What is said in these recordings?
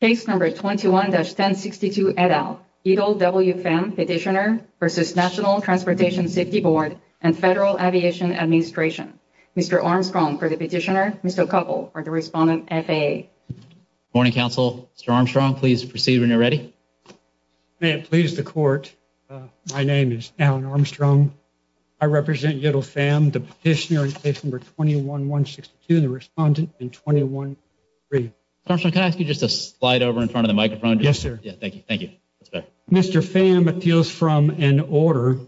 Case number 21-1062 et al. Ydil W. Pham, Petitioner v. National Transportation Safety Board and Federal Aviation Administration. Mr. Armstrong for the Petitioner, Mr. O'Connell for the Respondent, FAA. Good morning, Counsel. Mr. Armstrong, please proceed when you're ready. May it please the Court, my name is Allan Armstrong. I represent Ydil Pham, the Petitioner in case number 21-162 and the Respondent in 21-3. Mr. Armstrong, can I ask you just to slide over in front of the microphone? Yes, sir. Thank you. Mr. Pham appeals from an order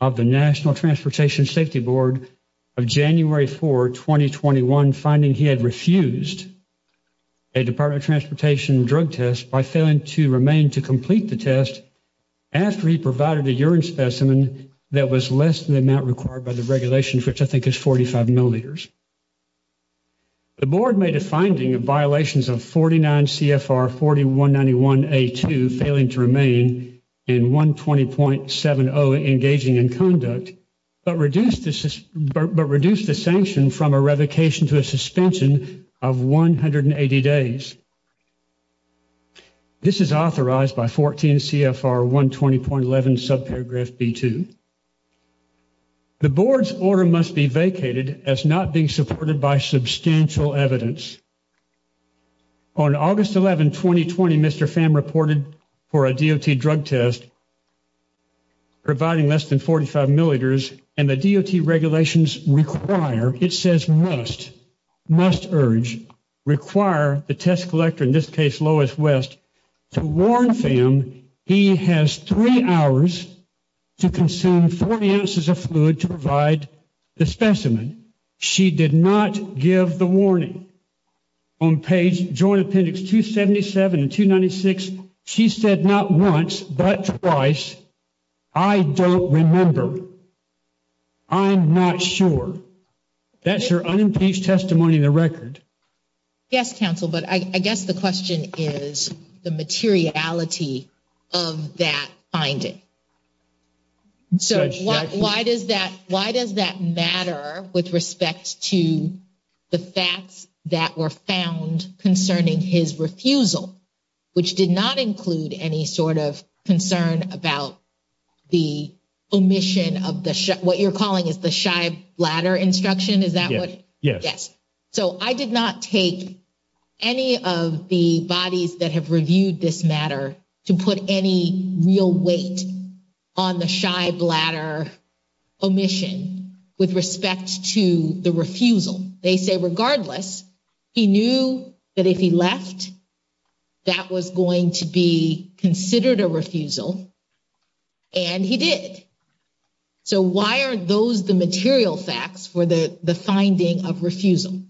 of the National Transportation Safety Board of January 4, 2021, finding he had refused a Department of Transportation drug test by failing to remain to complete the test after he provided a urine specimen that was less than the amount required by the regulations, which I think is 45 milliliters. The Board made a finding of violations of 49 CFR 4191A2, failing to remain, and 120.70, engaging in conduct, but reduced the sanction from a revocation to a suspension of 180 days. This is authorized by 14 CFR 120.11, subparagraph B2. The Board's order must be vacated as not being supported by substantial evidence. On August 11, 2020, Mr. Pham reported for a DOT drug test providing less than 45 milliliters, and the DOT regulations require, it says must, must urge, require the test collector, in this case Lois West, to warn Pham he has three hours to consume 40 ounces of fluid to provide the specimen. She did not give the warning. On page Joint Appendix 277 and 296, she said not once, but twice, I don't remember. I'm not sure. That's your unimpeached testimony in the record. Yes, Counsel, but I guess the question is the materiality of that finding. So why does that matter with respect to the facts that were found concerning his refusal, which did not include any sort of concern about the omission of what you're calling is the shy bladder instruction? Is that what? Yes. So I did not take any of the bodies that have reviewed this matter to put any real weight on the shy bladder omission with respect to the refusal. They say regardless, he knew that if he left, that was going to be considered a refusal, and he did. So why are those the material facts for the finding of refusal?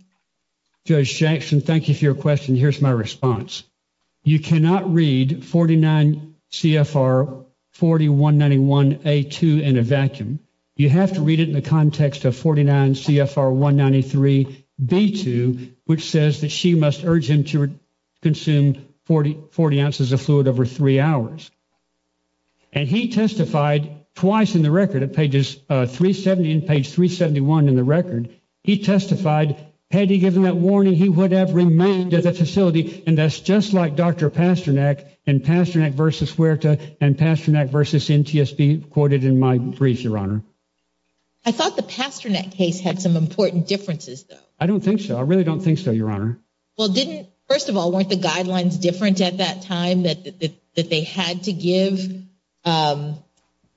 Judge Jackson, thank you for your question. Here's my response. You cannot read 49 CFR 4191A2 in a vacuum. You have to read it in the context of 49 CFR 193B2, which says that she must urge him to consume 40 ounces of fluid over three hours. And he testified twice in the record at pages 370 and page 371 in the record. He testified. Had he given that warning, he would have remained at the facility. And that's just like Dr. Pasternak and Pasternak versus Huerta and Pasternak versus NTSB quoted in my brief, Your Honor. I thought the Pasternak case had some important differences, though. I don't think so. I really don't think so, Your Honor. Well, first of all, weren't the guidelines different at that time that they had to give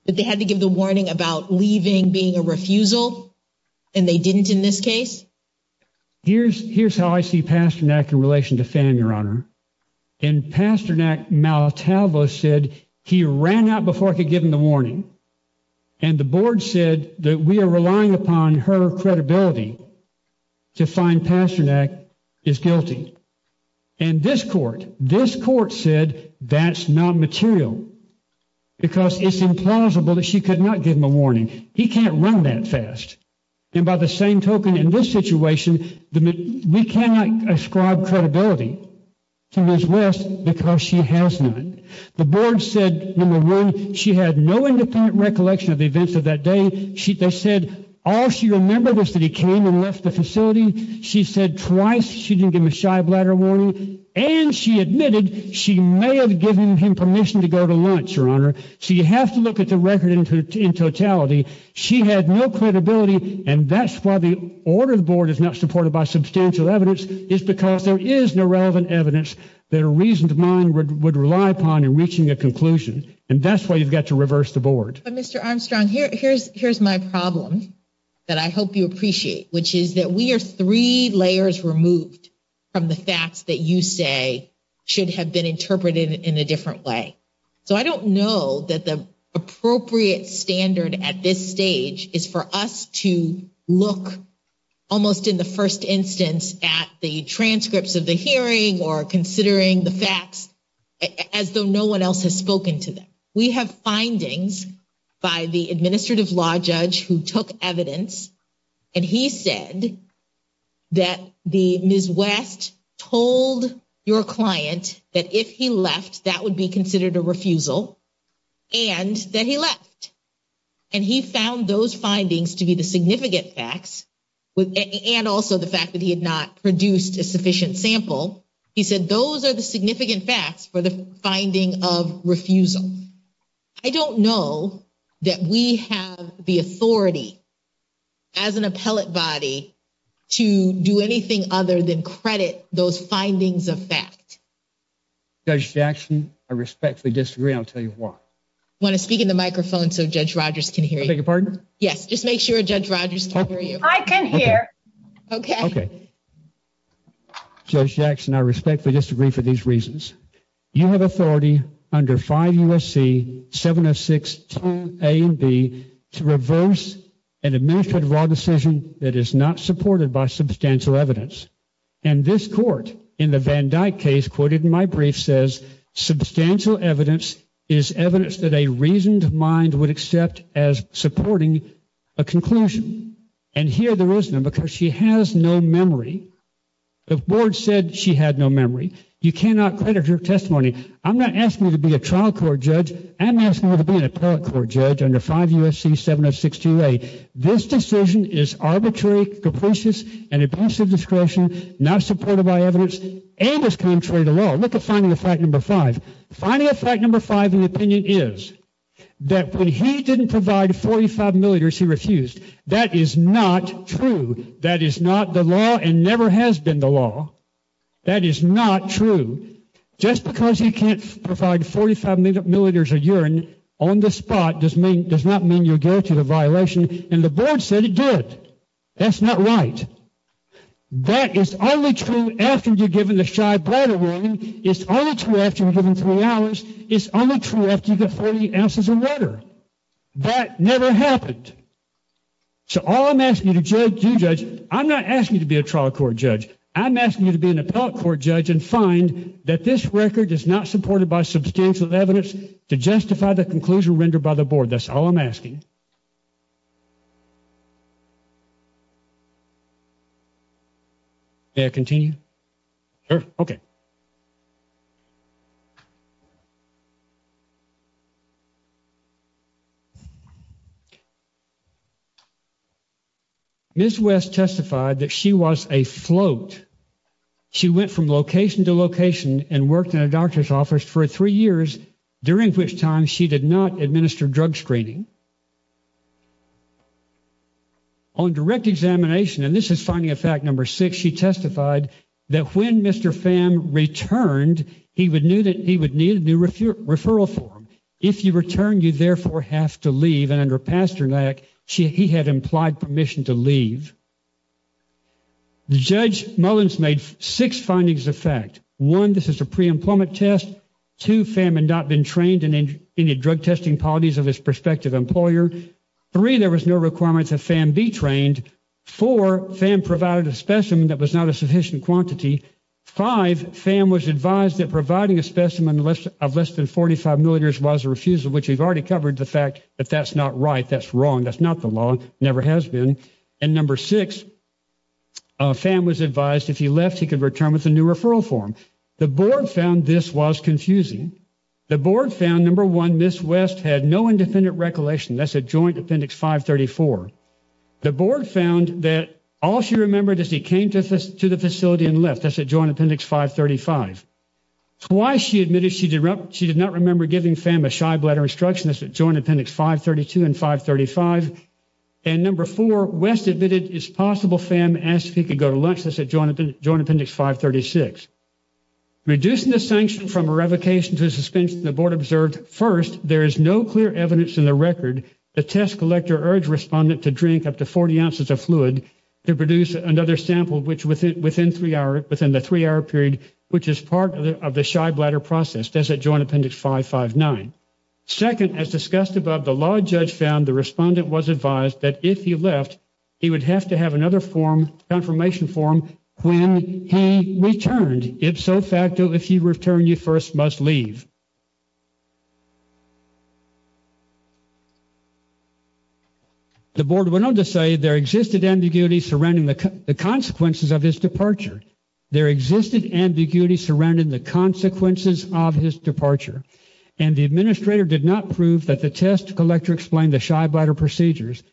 the warning about leaving being a refusal, and they didn't in this case? Here's how I see Pasternak in relation to Pham, Your Honor. And Pasternak maletalvo said he ran out before I could give him the warning. And the board said that we are relying upon her credibility to find Pasternak is guilty. And this court, this court said that's not material because it's implausible that she could not give him a warning. He can't run that fast. And by the same token, in this situation, we cannot ascribe credibility to Ms. West because she has not. The board said, number one, she had no independent recollection of the events of that day. They said all she remembers is that he came and left the facility. She said twice she didn't give him a shy bladder warning. And she admitted she may have given him permission to go to lunch, Your Honor. So you have to look at the record in totality. She had no credibility, and that's why the order of the board is not supported by substantial evidence, is because there is no relevant evidence that a reasoned mind would rely upon in reaching a conclusion. And that's why you've got to reverse the board. But, Mr. Armstrong, here's my problem that I hope you appreciate, which is that we are three layers removed from the facts that you say should have been interpreted in a different way. So I don't know that the appropriate standard at this stage is for us to look almost in the first instance at the transcripts of the hearing or considering the facts as though no one else has spoken to them. We have findings by the administrative law judge who took evidence, and he said that Ms. West told your client that if he left, that would be considered a refusal and that he left. And he found those findings to be the significant facts and also the fact that he had not produced a sufficient sample. He said those are the significant facts for the finding of refusal. I don't know that we have the authority as an appellate body to do anything other than credit those findings of fact. Judge Jackson, I respectfully disagree. I'll tell you why. I want to speak in the microphone so Judge Rogers can hear you. I beg your pardon? Yes, just make sure Judge Rogers can hear you. I can hear. Okay. Judge Jackson, I respectfully disagree for these reasons. You have authority under 5 U.S.C. 706-2A and B to reverse an administrative law decision that is not supported by substantial evidence. And this court in the Van Dyke case quoted in my brief says substantial evidence is evidence that a reasoned mind would accept as supporting a conclusion. And here there is none because she has no memory. The board said she had no memory. You cannot credit her testimony. I'm not asking her to be a trial court judge. I'm asking her to be an appellate court judge under 5 U.S.C. 706-2A. This decision is arbitrary, capricious, and a breach of discretion not supported by evidence and is contrary to law. Look at finding of fact number five. Finding of fact number five in the opinion is that when he didn't provide 45 milliliters, he refused. That is not true. That is not the law and never has been the law. That is not true. Just because he can't provide 45 milliliters of urine on the spot does not mean you're guaranteed a violation. And the board said it did. That's not right. That is only true after you're given the shy bladder warning. It's only true after you're given three hours. It's only true after you get 40 ounces of water. That never happened. So all I'm asking you to do, Judge, I'm not asking you to be a trial court judge. I'm asking you to be an appellate court judge and find that this record is not supported by substantial evidence to justify the conclusion rendered by the board. That's all I'm asking. May I continue? Sure. Okay. Ms. West testified that she was a float. She went from location to location and worked in a doctor's office for three years, during which time she did not administer drug screening. On direct examination, and this is finding of fact number six, she testified that when Mr. Pham returned, he would need a new referral form. If you return, you therefore have to leave. And under Pasternak, he had implied permission to leave. Judge Mullins made six findings of fact. One, this is a preemployment test. Two, Pham had not been trained in any drug testing policies of his prospective employer. Three, there was no requirement that Pham be trained. Four, Pham provided a specimen that was not a sufficient quantity. Five, Pham was advised that providing a specimen of less than 45 milliliters was a refusal, which we've already covered, the fact that that's not right. That's wrong. That's not the law. It never has been. And number six, Pham was advised if he left, he could return with a new referral form. The board found this was confusing. The board found, number one, Ms. West had no independent recollection. That's at Joint Appendix 534. The board found that all she remembered is he came to the facility and left. That's at Joint Appendix 535. Twice she admitted she did not remember giving Pham a shy bladder instruction. That's at Joint Appendix 532 and 535. And number four, West admitted it's possible Pham asked if he could go to lunch. That's at Joint Appendix 536. Reducing the sanction from a revocation to a suspension, the board observed, first, there is no clear evidence in the record. The test collector urged respondent to drink up to 40 ounces of fluid to produce another sample within the three-hour period, which is part of the shy bladder process. That's at Joint Appendix 559. Second, as discussed above, the law judge found the respondent was advised that if he left, he would have to have another confirmation form when he returned. If so, facto, if you return, you first must leave. The board went on to say there existed ambiguity surrounding the consequences of his departure. There existed ambiguity surrounding the consequences of his departure. And the administrator did not prove that the test collector explained the shy bladder procedures.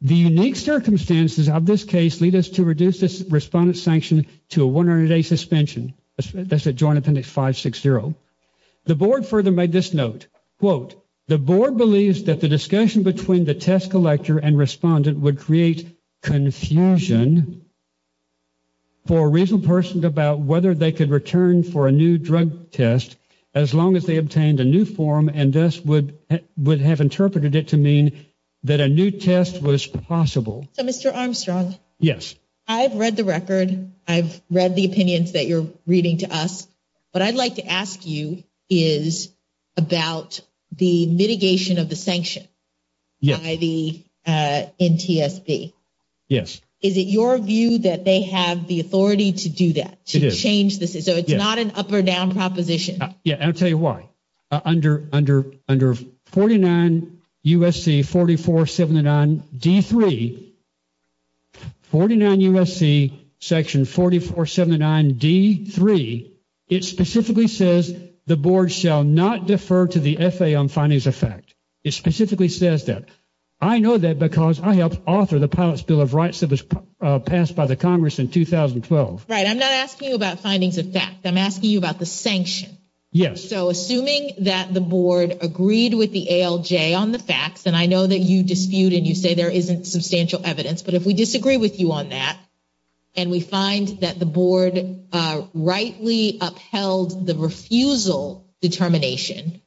The unique circumstances of this case lead us to reduce this respondent's sanction to a 100-day suspension. That's at Joint Appendix 560. The board further made this note. Quote, the board believes that the discussion between the test collector and respondent would create confusion for a reasonable person about whether they could return for a new drug test as long as they obtained a new form and thus would have interpreted it to mean that a new test was possible. So, Mr. Armstrong. Yes. I've read the record. I've read the opinions that you're reading to us. What I'd like to ask you is about the mitigation of the sanction by the NTSB. Yes. Is it your view that they have the authority to do that, to change this? So it's not an up or down proposition. Yeah, and I'll tell you why. Under 49 U.S.C. 4479D3, 49 U.S.C. section 4479D3, it specifically says the board shall not defer to the FAA on findings of fact. It specifically says that. I know that because I helped author the pilot's bill of rights that was passed by the Congress in 2012. Right. I'm not asking you about findings of fact. I'm asking you about the sanction. Yes. So assuming that the board agreed with the ALJ on the facts, and I know that you dispute and you say there isn't substantial evidence, but if we disagree with you on that and we find that the board rightly upheld the refusal determination,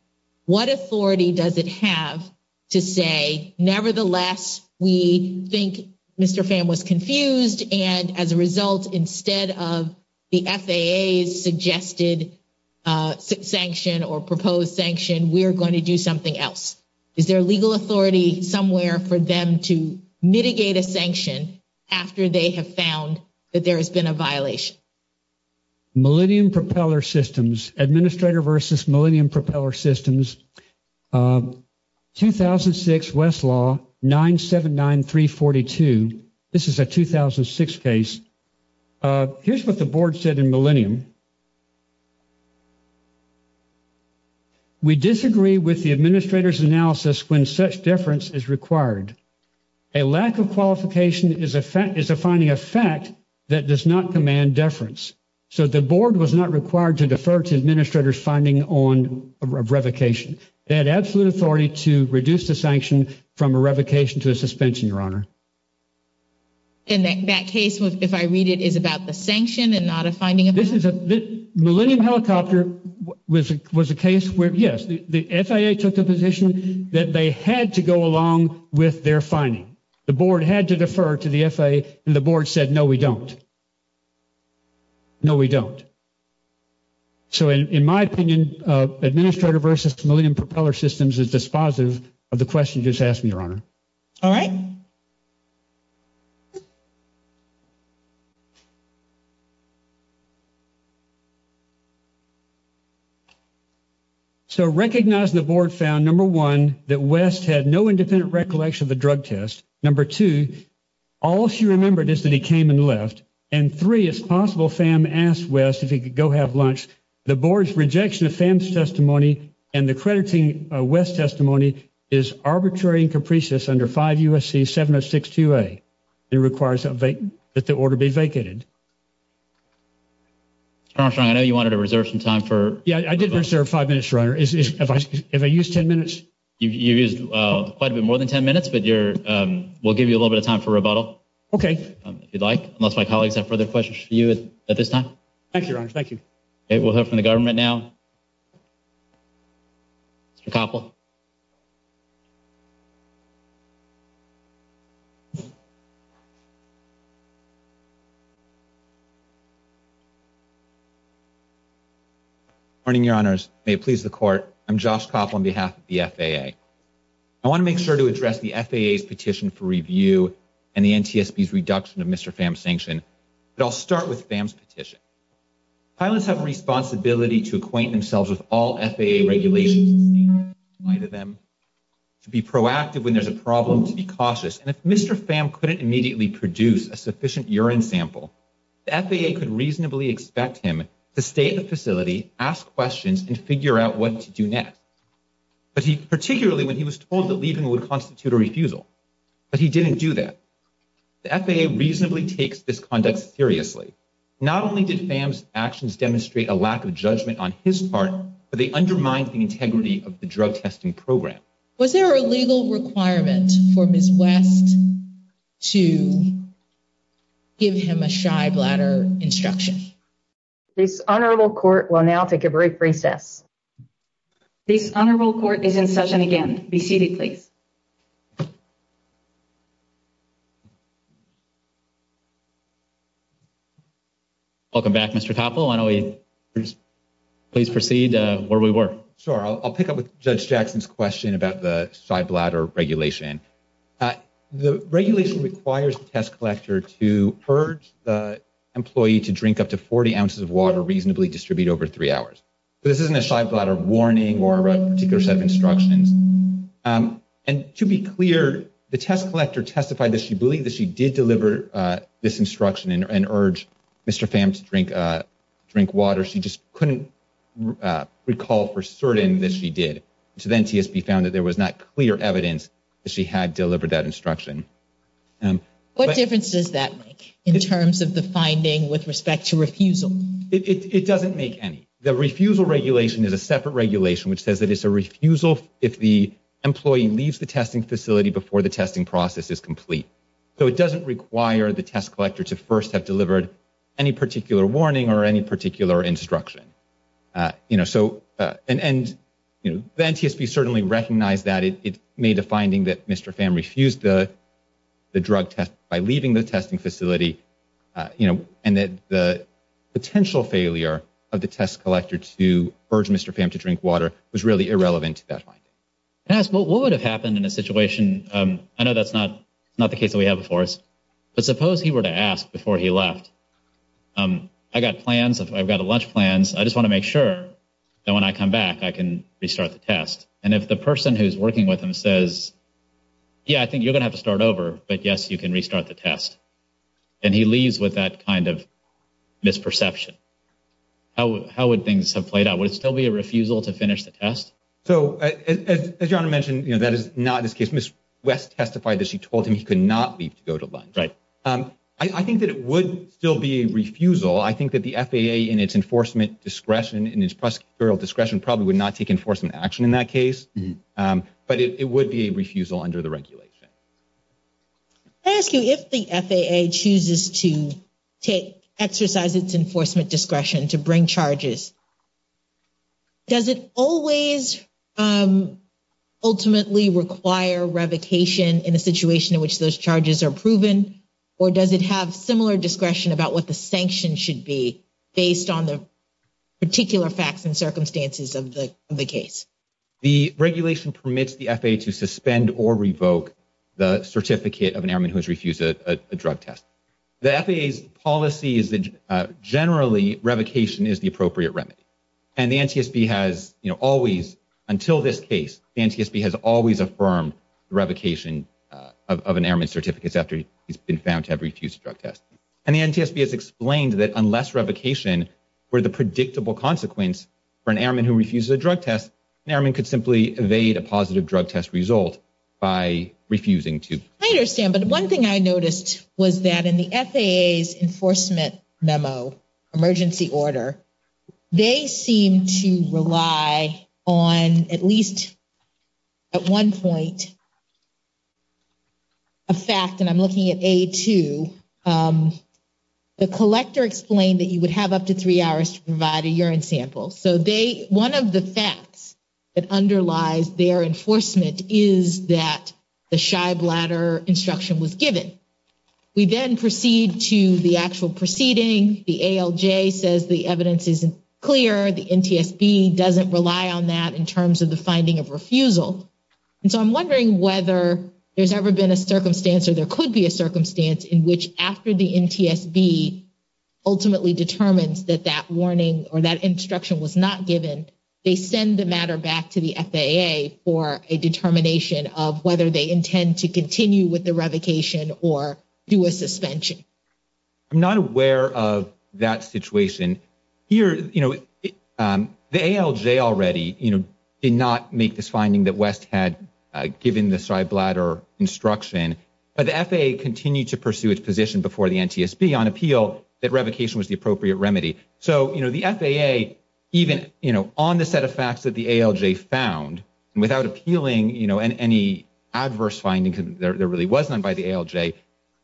what authority does it have to say, nevertheless, we think Mr. Pham was confused, and as a result, instead of the FAA's suggested sanction or proposed sanction, we're going to do something else? Is there legal authority somewhere for them to mitigate a sanction after they have found that there has been a violation? Millennium Propeller Systems. Administrator versus Millennium Propeller Systems. 2006 Westlaw 979342. This is a 2006 case. Here's what the board said in Millennium. We disagree with the administrator's analysis when such deference is required. A lack of qualification is a finding of fact that does not command deference. So the board was not required to defer to administrator's finding of revocation. They had absolute authority to reduce the sanction from a revocation to a suspension, Your Honor. And that case, if I read it, is about the sanction and not a finding of fact? Millennium Helicopter was a case where, yes, the FAA took the position that they had to go along with their finding. The board had to defer to the FAA, and the board said, no, we don't. No, we don't. So in my opinion, administrator versus Millennium Propeller Systems is dispositive of the question you just asked me, Your Honor. All right. So recognizing the board found, number one, that West had no independent recollection of the drug test. Number two, all she remembered is that he came and left. And three, it's possible FAM asked West if he could go have lunch. The board's rejection of FAM's testimony and the crediting of West's testimony is arbitrary and capricious under 5 U.S.C. 7062A. It requires that the order be vacated. Your Honor, I know you wanted to reserve some time for rebuttal. Yeah, I did reserve five minutes, Your Honor. If I use ten minutes? You used quite a bit more than ten minutes, but we'll give you a little bit of time for rebuttal. Okay. If you'd like, unless my colleagues have further questions for you at this time. Thank you, Your Honor. Thank you. Okay, we'll hear from the government now. Mr. Koppel. Good morning, Your Honors. May it please the Court, I'm Josh Koppel on behalf of the FAA. I want to make sure to address the FAA's petition for review and the NTSB's reduction of Mr. FAM's sanction. But I'll start with FAM's petition. Pilots have a responsibility to acquaint themselves with all FAA regulations in the light of them, to be proactive when there's a problem, to be cautious. And if Mr. FAM couldn't immediately produce a sufficient urine sample, the FAA could reasonably expect him to stay at the facility, ask questions, and figure out what to do next, particularly when he was told that leaving would constitute a refusal. But he didn't do that. The FAA reasonably takes this conduct seriously. Not only did FAM's actions demonstrate a lack of judgment on his part, but they undermined the integrity of the drug testing program. Was there a legal requirement for Ms. West to give him a shy bladder instruction? This Honorable Court will now take a brief recess. This Honorable Court is in session again. Be seated, please. Welcome back, Mr. Topol. Why don't we please proceed where we were. Sure. I'll pick up with Judge Jackson's question about the shy bladder regulation. The regulation requires the test collector to urge the employee to drink up to 40 ounces of water reasonably distributed over three hours. This isn't a shy bladder warning or a particular set of instructions. And to be clear, the test collector testified that she believed that she did deliver this instruction and urged Mr. FAM to drink water. She just couldn't recall for certain that she did. So then TSB found that there was not clear evidence that she had delivered that instruction. What difference does that make in terms of the finding with respect to refusal? It doesn't make any. The refusal regulation is a separate regulation which says that it's a refusal if the employee leaves the testing facility before the testing process is complete. So it doesn't require the test collector to first have delivered any particular warning or any particular instruction. And then TSB certainly recognized that it made a finding that Mr. FAM refused the drug test by leaving the testing facility. And that the potential failure of the test collector to urge Mr. FAM to drink water was really irrelevant to that finding. Can I ask what would have happened in a situation? I know that's not the case that we have before us. But suppose he were to ask before he left. I've got plans. I've got lunch plans. I just want to make sure that when I come back I can restart the test. And if the person who's working with him says, yeah, I think you're going to have to start over. But yes, you can restart the test. And he leaves with that kind of misperception. How would things have played out? Would it still be a refusal to finish the test? So as your Honor mentioned, that is not the case. Ms. West testified that she told him he could not leave to go to lunch. Right. I think that it would still be a refusal. I think that the FAA, in its enforcement discretion, in its prosecutorial discretion, probably would not take enforcement action in that case. But it would be a refusal under the regulation. Can I ask you, if the FAA chooses to exercise its enforcement discretion to bring charges, does it always ultimately require revocation in a situation in which those charges are proven? Or does it have similar discretion about what the sanctions should be based on the particular facts and circumstances of the case? The regulation permits the FAA to suspend or revoke the certificate of an airman who has refused a drug test. The FAA's policy is that generally revocation is the appropriate remedy. And the NTSB has always, until this case, the NTSB has always affirmed the revocation of an airman's certificates after he's been found to have refused a drug test. And the NTSB has explained that unless revocation were the predictable consequence for an airman who refuses a drug test, an airman could simply evade a positive drug test result by refusing to. I understand, but one thing I noticed was that in the FAA's enforcement memo, emergency order, they seem to rely on at least, at one point, a fact. And I'm looking at A2. The collector explained that you would have up to three hours to provide a urine sample. So one of the facts that underlies their enforcement is that the shy bladder instruction was given. We then proceed to the actual proceeding. The ALJ says the evidence isn't clear. The NTSB doesn't rely on that in terms of the finding of refusal. And so I'm wondering whether there's ever been a circumstance or there could be a circumstance in which after the NTSB ultimately determines that that warning or that instruction was not given, they send the matter back to the FAA for a determination of whether they intend to continue with the revocation or do a suspension. I'm not aware of that situation. The ALJ already did not make this finding that West had given the shy bladder instruction. But the FAA continued to pursue its position before the NTSB on appeal that revocation was the appropriate remedy. So the FAA, even on the set of facts that the ALJ found, without appealing any adverse findings that there really was none by the ALJ,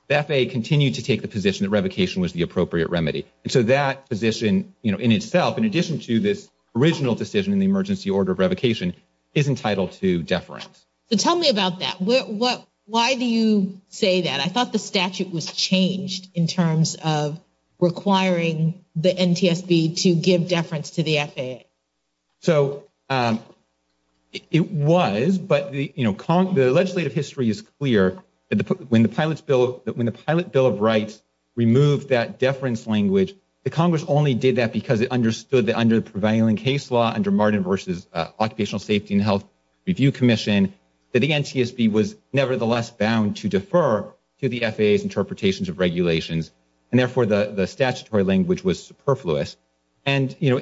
the FAA continued to take the position that revocation was the appropriate remedy. And so that position in itself, in addition to this original decision in the emergency order of revocation, is entitled to deference. So tell me about that. Why do you say that? I thought the statute was changed in terms of requiring the NTSB to give deference to the FAA. So it was, but the legislative history is clear. When the Pilot Bill of Rights removed that deference language, the Congress only did that because it understood that under the prevailing case law, under Martin v. Occupational Safety and Health Review Commission, that the NTSB was nevertheless bound to defer to the FAA's interpretations of regulations. And therefore, the statutory language was superfluous. And, you know,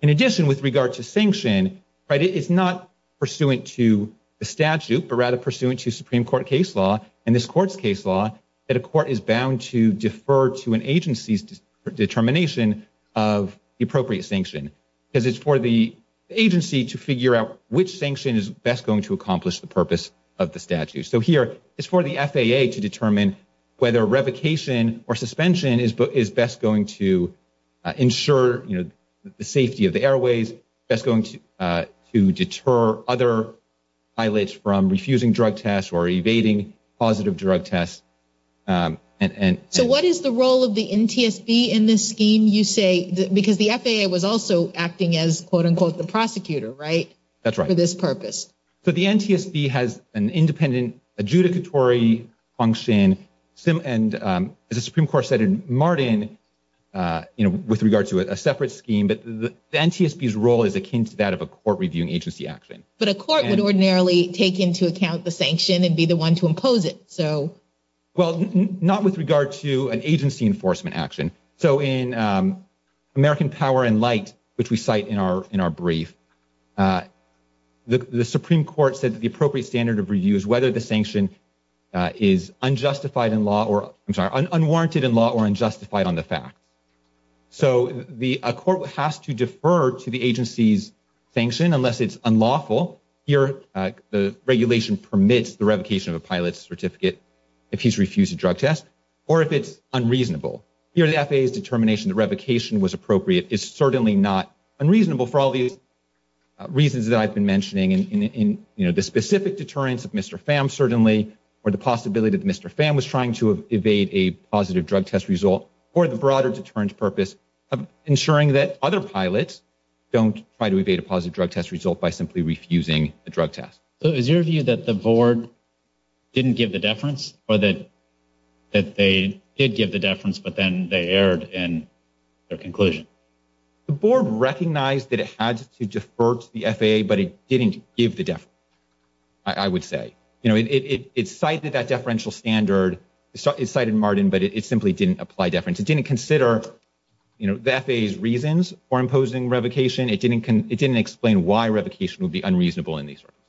in addition, with regard to sanction, right, it's not pursuant to the statute, but rather pursuant to Supreme Court case law and this Court's case law, that a court is bound to defer to an agency's determination of the appropriate sanction. Because it's for the agency to figure out which sanction is best going to accomplish the purpose of the statute. So here, it's for the FAA to determine whether revocation or suspension is best going to ensure the safety of the airways, best going to deter other pilots from refusing drug tests or evading positive drug tests. So what is the role of the NTSB in this scheme, you say? Because the FAA was also acting as, quote unquote, the prosecutor, right? That's right. For this purpose. So the NTSB has an independent adjudicatory function, and as the Supreme Court said in Martin, you know, with regard to a separate scheme, but the NTSB's role is akin to that of a court reviewing agency action. But a court would ordinarily take into account the sanction and be the one to impose it, so. Well, not with regard to an agency enforcement action. So in American Power and Light, which we cite in our brief, the Supreme Court said that the appropriate standard of review is whether the sanction is unwarranted in law or unjustified on the facts. So a court has to defer to the agency's sanction unless it's unlawful. Here, the regulation permits the revocation of a pilot's certificate if he's refused a drug test or if it's unreasonable. Here, the FAA's determination that revocation was appropriate is certainly not unreasonable for all these reasons that I've been mentioning. And, you know, the specific deterrence of Mr. Pham certainly, or the possibility that Mr. Pham was trying to evade a positive drug test result, or the broader deterrent purpose of ensuring that other pilots don't try to evade a positive drug test result by simply refusing a drug test. So is your view that the board didn't give the deference or that they did give the deference, but then they erred in their conclusion? The board recognized that it had to defer to the FAA, but it didn't give the deference, I would say. You know, it cited that deferential standard. It cited Marden, but it simply didn't apply deference. It didn't consider, you know, the FAA's reasons for imposing revocation. It didn't explain why revocation would be unreasonable in these circumstances.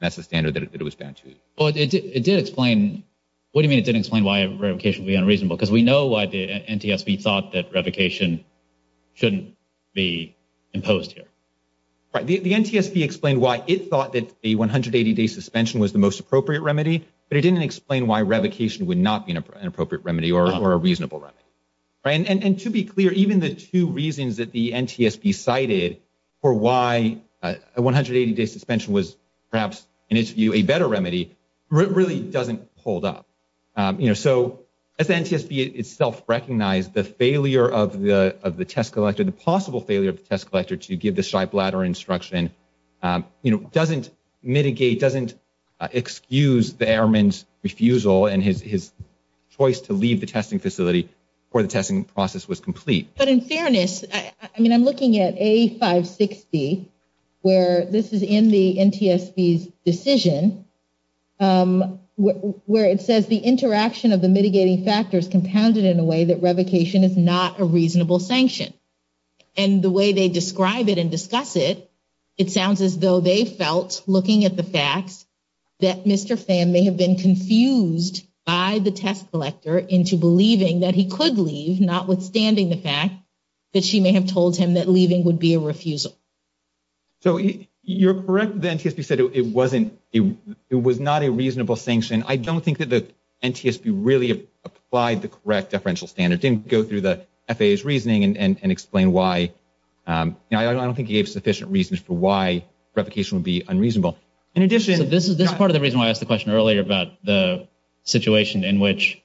That's the standard that it was bound to. Well, it did explain – what do you mean it didn't explain why revocation would be unreasonable? Because we know why the NTSB thought that revocation shouldn't be imposed here. Right. The NTSB explained why it thought that a 180-day suspension was the most appropriate remedy, but it didn't explain why revocation would not be an appropriate remedy or a reasonable remedy. And to be clear, even the two reasons that the NTSB cited for why a 180-day suspension was perhaps, in its view, a better remedy really doesn't hold up. You know, so, as the NTSB itself recognized, the failure of the test collector, the possible failure of the test collector to give the shy bladder instruction, you know, doesn't mitigate, doesn't excuse the airman's refusal and his choice to leave the testing facility before the testing process was complete. But in fairness, I mean, I'm looking at A560, where this is in the NTSB's decision, where it says the interaction of the mitigating factors compounded in a way that revocation is not a reasonable sanction. And the way they describe it and discuss it, it sounds as though they felt, looking at the facts, that Mr. Pham may have been confused by the test collector into believing that he could leave, notwithstanding the fact that she may have told him that leaving would be a refusal. So you're correct that the NTSB said it wasn't – it was not a reasonable sanction. I don't think that the NTSB really applied the correct deferential standard. It didn't go through the FAA's reasoning and explain why – I don't think it gave sufficient reasons for why revocation would be unreasonable. So this is part of the reason why I asked the question earlier about the situation in which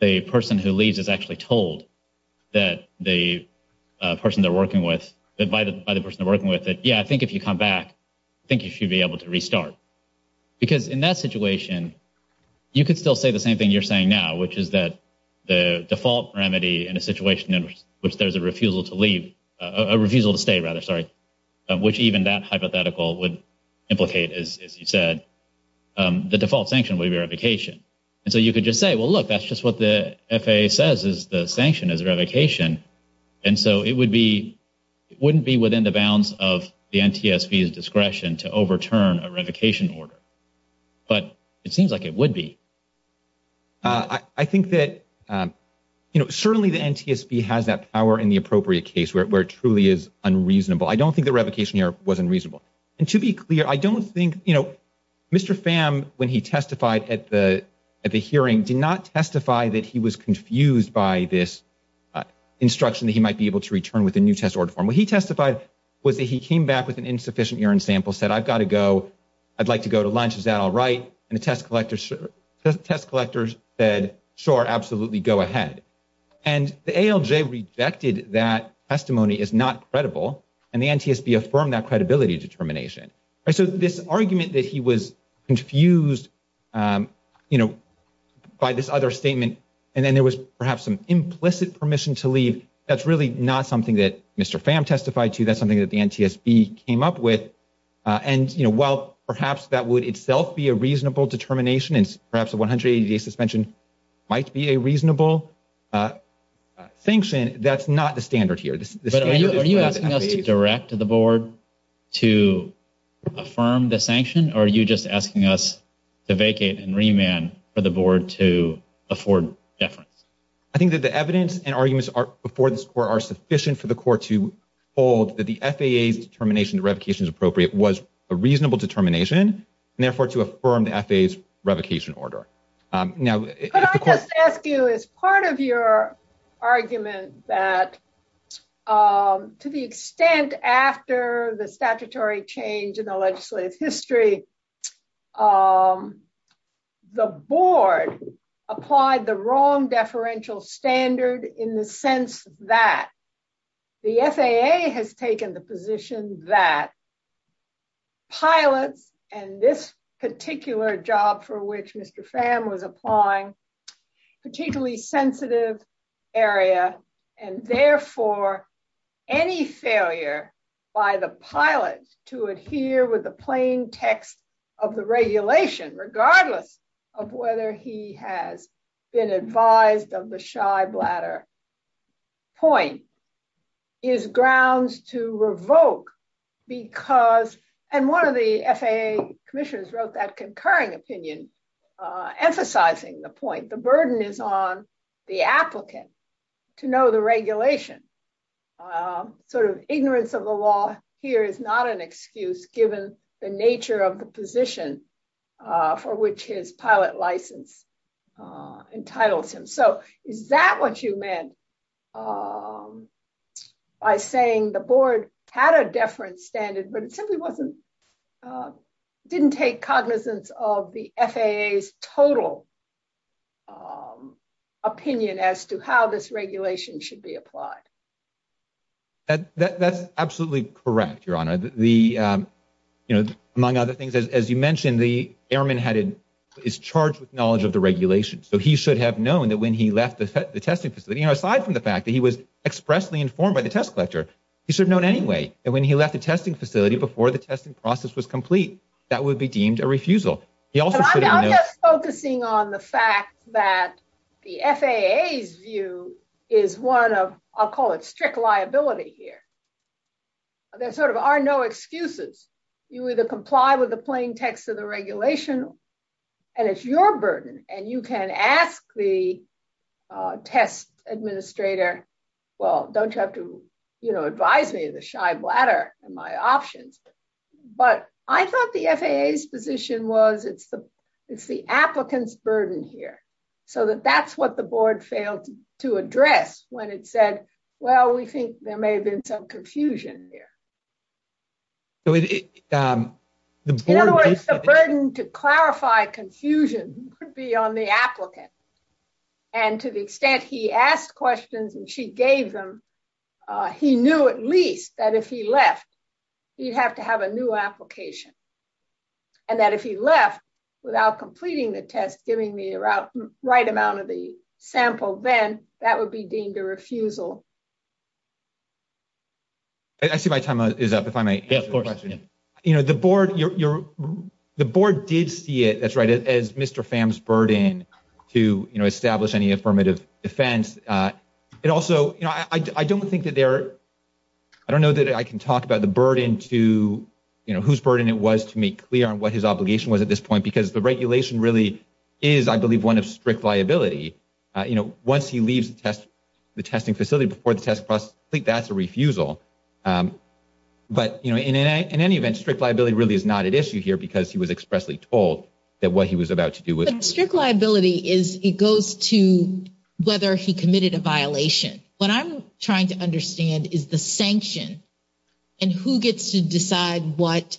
the person who leaves is actually told that the person they're working with – by the person they're working with, that, yeah, I think if you come back, I think you should be able to restart. Because in that situation, you could still say the same thing you're saying now, which is that the default remedy in a situation in which there's a refusal to leave – a refusal to stay, rather, sorry, which even that hypothetical would implicate, as you said, the default sanction would be revocation. And so you could just say, well, look, that's just what the FAA says is the sanction is revocation. And so it would be – it wouldn't be within the bounds of the NTSB's discretion to overturn a revocation order. But it seems like it would be. I think that certainly the NTSB has that power in the appropriate case where it truly is unreasonable. I don't think the revocation here was unreasonable. And to be clear, I don't think – Mr. Pham, when he testified at the hearing, did not testify that he was confused by this instruction that he might be able to return with a new test order form. What he testified was that he came back with an insufficient urine sample, said, I've got to go. I'd like to go to lunch. Is that all right? And the test collectors said, sure, absolutely, go ahead. And the ALJ rejected that testimony as not credible, and the NTSB affirmed that credibility determination. So this argument that he was confused by this other statement, and then there was perhaps some implicit permission to leave, that's really not something that Mr. Pham testified to. That's something that the NTSB came up with. And while perhaps that would itself be a reasonable determination, and perhaps a 180-day suspension might be a reasonable sanction, that's not the standard here. Are you asking us to direct the board to affirm the sanction, or are you just asking us to vacate and remand for the board to afford deference? I think that the evidence and arguments before this court are sufficient for the court to hold that the FAA's determination to revocation is appropriate was a reasonable determination, and therefore to affirm the FAA's revocation order. Could I just ask you, is part of your argument that, to the extent after the statutory change in the legislative history, the board applied the wrong deferential standard in the sense that the FAA has taken the position that pilots and this particular job for which Mr. Pham was applying, particularly sensitive area, and therefore any failure by the pilot to adhere with the plain text of the regulation, regardless of whether he has been advised of the shy bladder point, is grounds to revoke because, and one of the FAA commissioners wrote that concurring opinion, emphasizing the point, the burden is on the applicant to know the regulation, sort of ignorance of the law here is not an excuse given the nature of the position for which his pilot license entitles him. So is that what you meant by saying the board had a deference standard, but it simply didn't take cognizance of the FAA's total opinion as to how this regulation should be applied? That's absolutely correct, Your Honor. Among other things, as you mentioned, the airman is charged with knowledge of the regulation, so he should have known that when he left the testing facility, aside from the fact that he was expressly informed by the test collector, he should have known anyway that when he left the testing facility before the testing process was complete, that would be deemed a refusal. I'm just focusing on the fact that the FAA's view is one of, I'll call it strict liability here. There sort of are no excuses. You either comply with the plain text of the regulation, and it's your burden, and you can ask the test administrator, well, don't you have to, you know, advise me of the shy bladder and my options. But I thought the FAA's position was it's the applicant's burden here, so that that's what the board failed to address when it said, well, we think there may have been some confusion here. In other words, the burden to clarify confusion could be on the applicant. And to the extent he asked questions and she gave them, he knew at least that if he left, he'd have to have a new application. And that if he left without completing the test, giving the right amount of the sample, then that would be deemed a refusal. I see my time is up, if I may. Yeah, of course. You know, the board, the board did see it, that's right, as Mr. Pham's burden to establish any affirmative defense. And it also, you know, I don't think that there, I don't know that I can talk about the burden to, you know, whose burden it was to make clear on what his obligation was at this point, because the regulation really is, I believe, one of strict liability. You know, once he leaves the test, the testing facility before the test process, I think that's a refusal. But, you know, in any event, strict liability really is not an issue here because he was expressly told that what he was about to do with. But strict liability is, it goes to whether he committed a violation. What I'm trying to understand is the sanction and who gets to decide what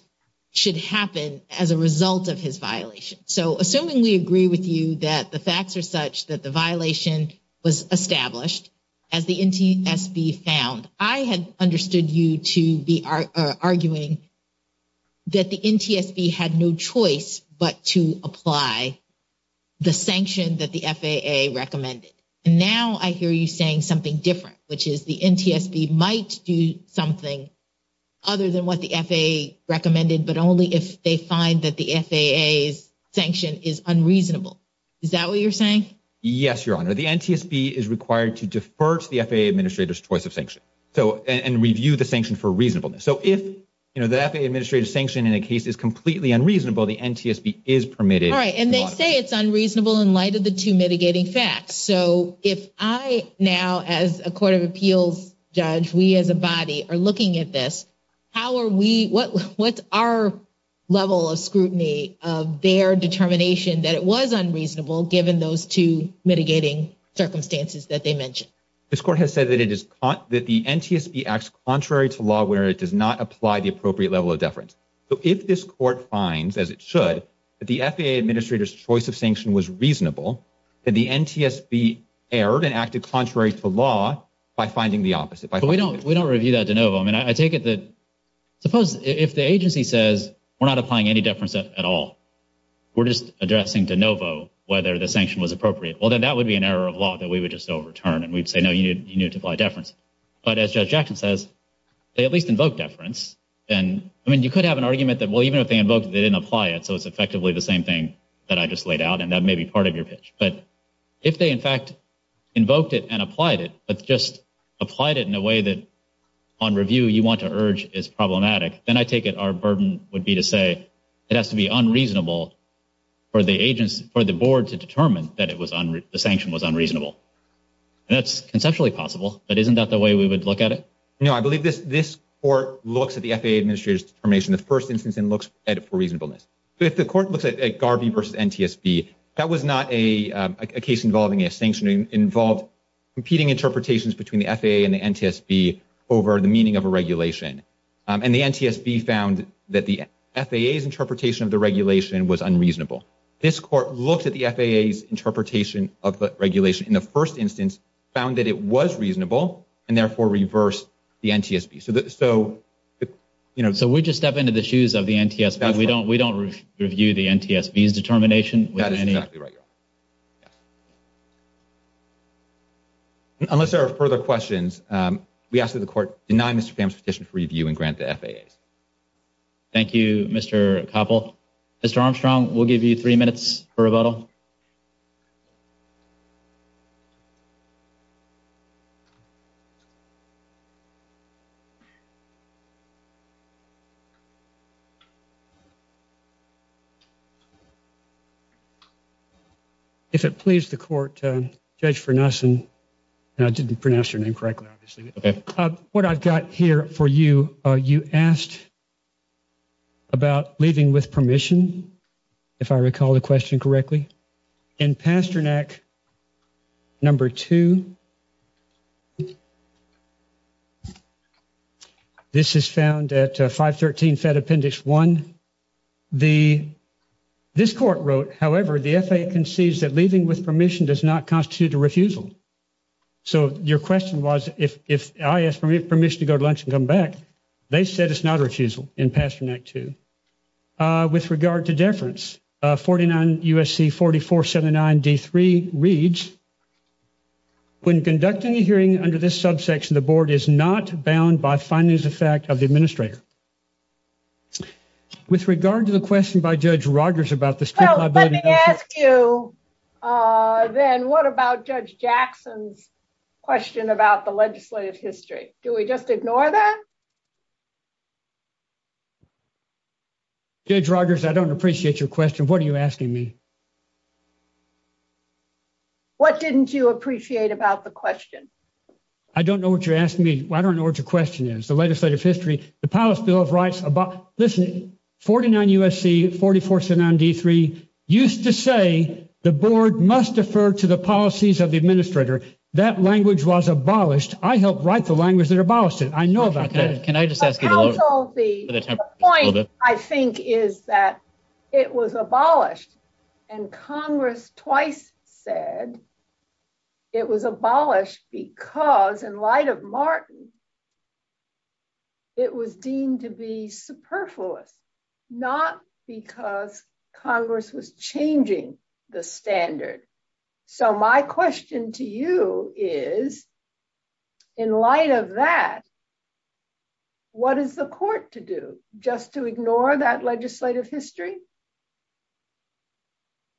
should happen as a result of his violation. So, assuming we agree with you that the facts are such that the violation was established, as the NTSB found, I had understood you to be arguing that the NTSB had no choice but to apply the sanction that the FAA recommended. And now I hear you saying something different, which is the NTSB might do something other than what the FAA recommended, but only if they find that the FAA's sanction is unreasonable. Is that what you're saying? Yes, Your Honor. The NTSB is required to defer to the FAA Administrator's choice of sanction and review the sanction for reasonableness. So, if the FAA Administrator's sanction in a case is completely unreasonable, the NTSB is permitted. All right. And they say it's unreasonable in light of the two mitigating facts. So, if I now, as a Court of Appeals judge, we as a body are looking at this, how are we, what's our level of scrutiny of their determination that it was unreasonable given those two mitigating circumstances that they mentioned? This Court has said that the NTSB acts contrary to law where it does not apply the appropriate level of deference. So, if this Court finds, as it should, that the FAA Administrator's choice of sanction was reasonable, then the NTSB erred and acted contrary to law by finding the opposite. But we don't review that de novo. I mean, I take it that, suppose if the agency says, we're not applying any deference at all. We're just addressing de novo whether the sanction was appropriate. Well, then that would be an error of law that we would just overturn and we'd say, no, you need to apply deference. But as Judge Jackson says, they at least invoked deference. And, I mean, you could have an argument that, well, even if they invoked it, they didn't apply it, so it's effectively the same thing that I just laid out, and that may be part of your pitch. But if they, in fact, invoked it and applied it, but just applied it in a way that on review you want to urge is problematic, then I take it our burden would be to say it has to be unreasonable for the board to determine that the sanction was unreasonable. And that's conceptually possible, but isn't that the way we would look at it? No, I believe this court looks at the FAA Administrator's determination in the first instance and looks at it for reasonableness. If the court looks at Garvey v. NTSB, that was not a case involving a sanction. It involved competing interpretations between the FAA and the NTSB over the meaning of a regulation. And the NTSB found that the FAA's interpretation of the regulation was unreasonable. This court looked at the FAA's interpretation of the regulation in the first instance, found that it was reasonable, and therefore reversed the NTSB. So we just step into the shoes of the NTSB. We don't review the NTSB's determination. Unless there are further questions, we ask that the court deny Mr. Kamm's petition for review and grant the FAA's. Thank you, Mr. Koppel. Mr. Armstrong, we'll give you three minutes for rebuttal. If it pleases the court, Judge Farnason, and I didn't pronounce your name correctly, obviously. What I've got here for you, you asked about leaving with permission, if I recall the question correctly. In Pasternak number 2, this is found at 513 Fed Appendix 1. This court wrote, however, the FAA concedes that leaving with permission does not constitute a refusal. So your question was, if I ask for permission to go to lunch and come back, they said it's not a refusal in Pasternak 2. With regard to deference, 49 U.S.C. 4479 D3 reads, when conducting a hearing under this subsection, the board is not bound by findings of fact of the administrator. With regard to the question by Judge Rogers about the street liability... Well, let me ask you then, what about Judge Jackson's question about the legislative history? Do we just ignore that? Judge Rogers, I don't appreciate your question. What are you asking me? What didn't you appreciate about the question? I don't know what you're asking me. I don't know what your question is. The legislative history, the Palace Bill of Rights... Listen, 49 U.S.C. 4479 D3 used to say the board must defer to the policies of the administrator. That language was abolished. I helped write the language that abolished it. I know about that. The point, I think, is that it was abolished, and Congress twice said it was abolished because, in light of Martin, it was deemed to be superfluous, not because Congress was changing the standard. So my question to you is, in light of that, what is the court to do? Just to ignore that legislative history?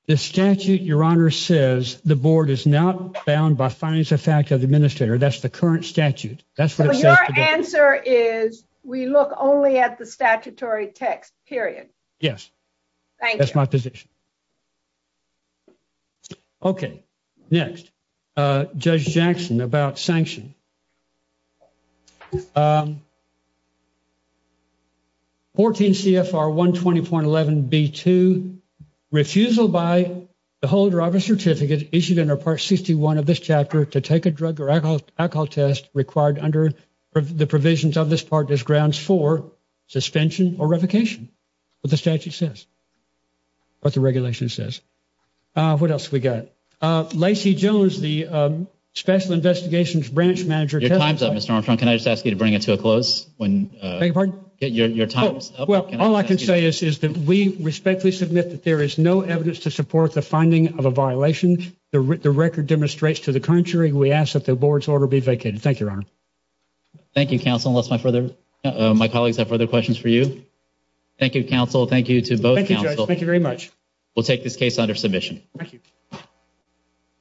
The statute, Your Honor, says the board is not bound by findings of fact of the administrator. That's the current statute. So your answer is we look only at the statutory text, period? Yes. Thank you. That's my position. Okay. Next. Judge Jackson, about sanction. 14 CFR 120.11B2, refusal by the holder of a certificate issued under Part 61 of this chapter to take a drug or alcohol test required under the provisions of this part as grounds for suspension or revocation. That's what the statute says. That's what the regulation says. What else have we got? Lacey Jones, the Special Investigations Branch Manager. Your time's up, Mr. Armstrong. Can I just ask you to bring it to a close? Beg your pardon? Your time's up. All I can say is that we respectfully submit that there is no evidence to support the finding of a violation. The record demonstrates to the contrary. We ask that the board's order be vacated. Thank you, Your Honor. Thank you, counsel, unless my colleagues have further questions for you. Thank you, counsel. Thank you to both counsel. Thank you very much. We'll take this case under submission. Thank you.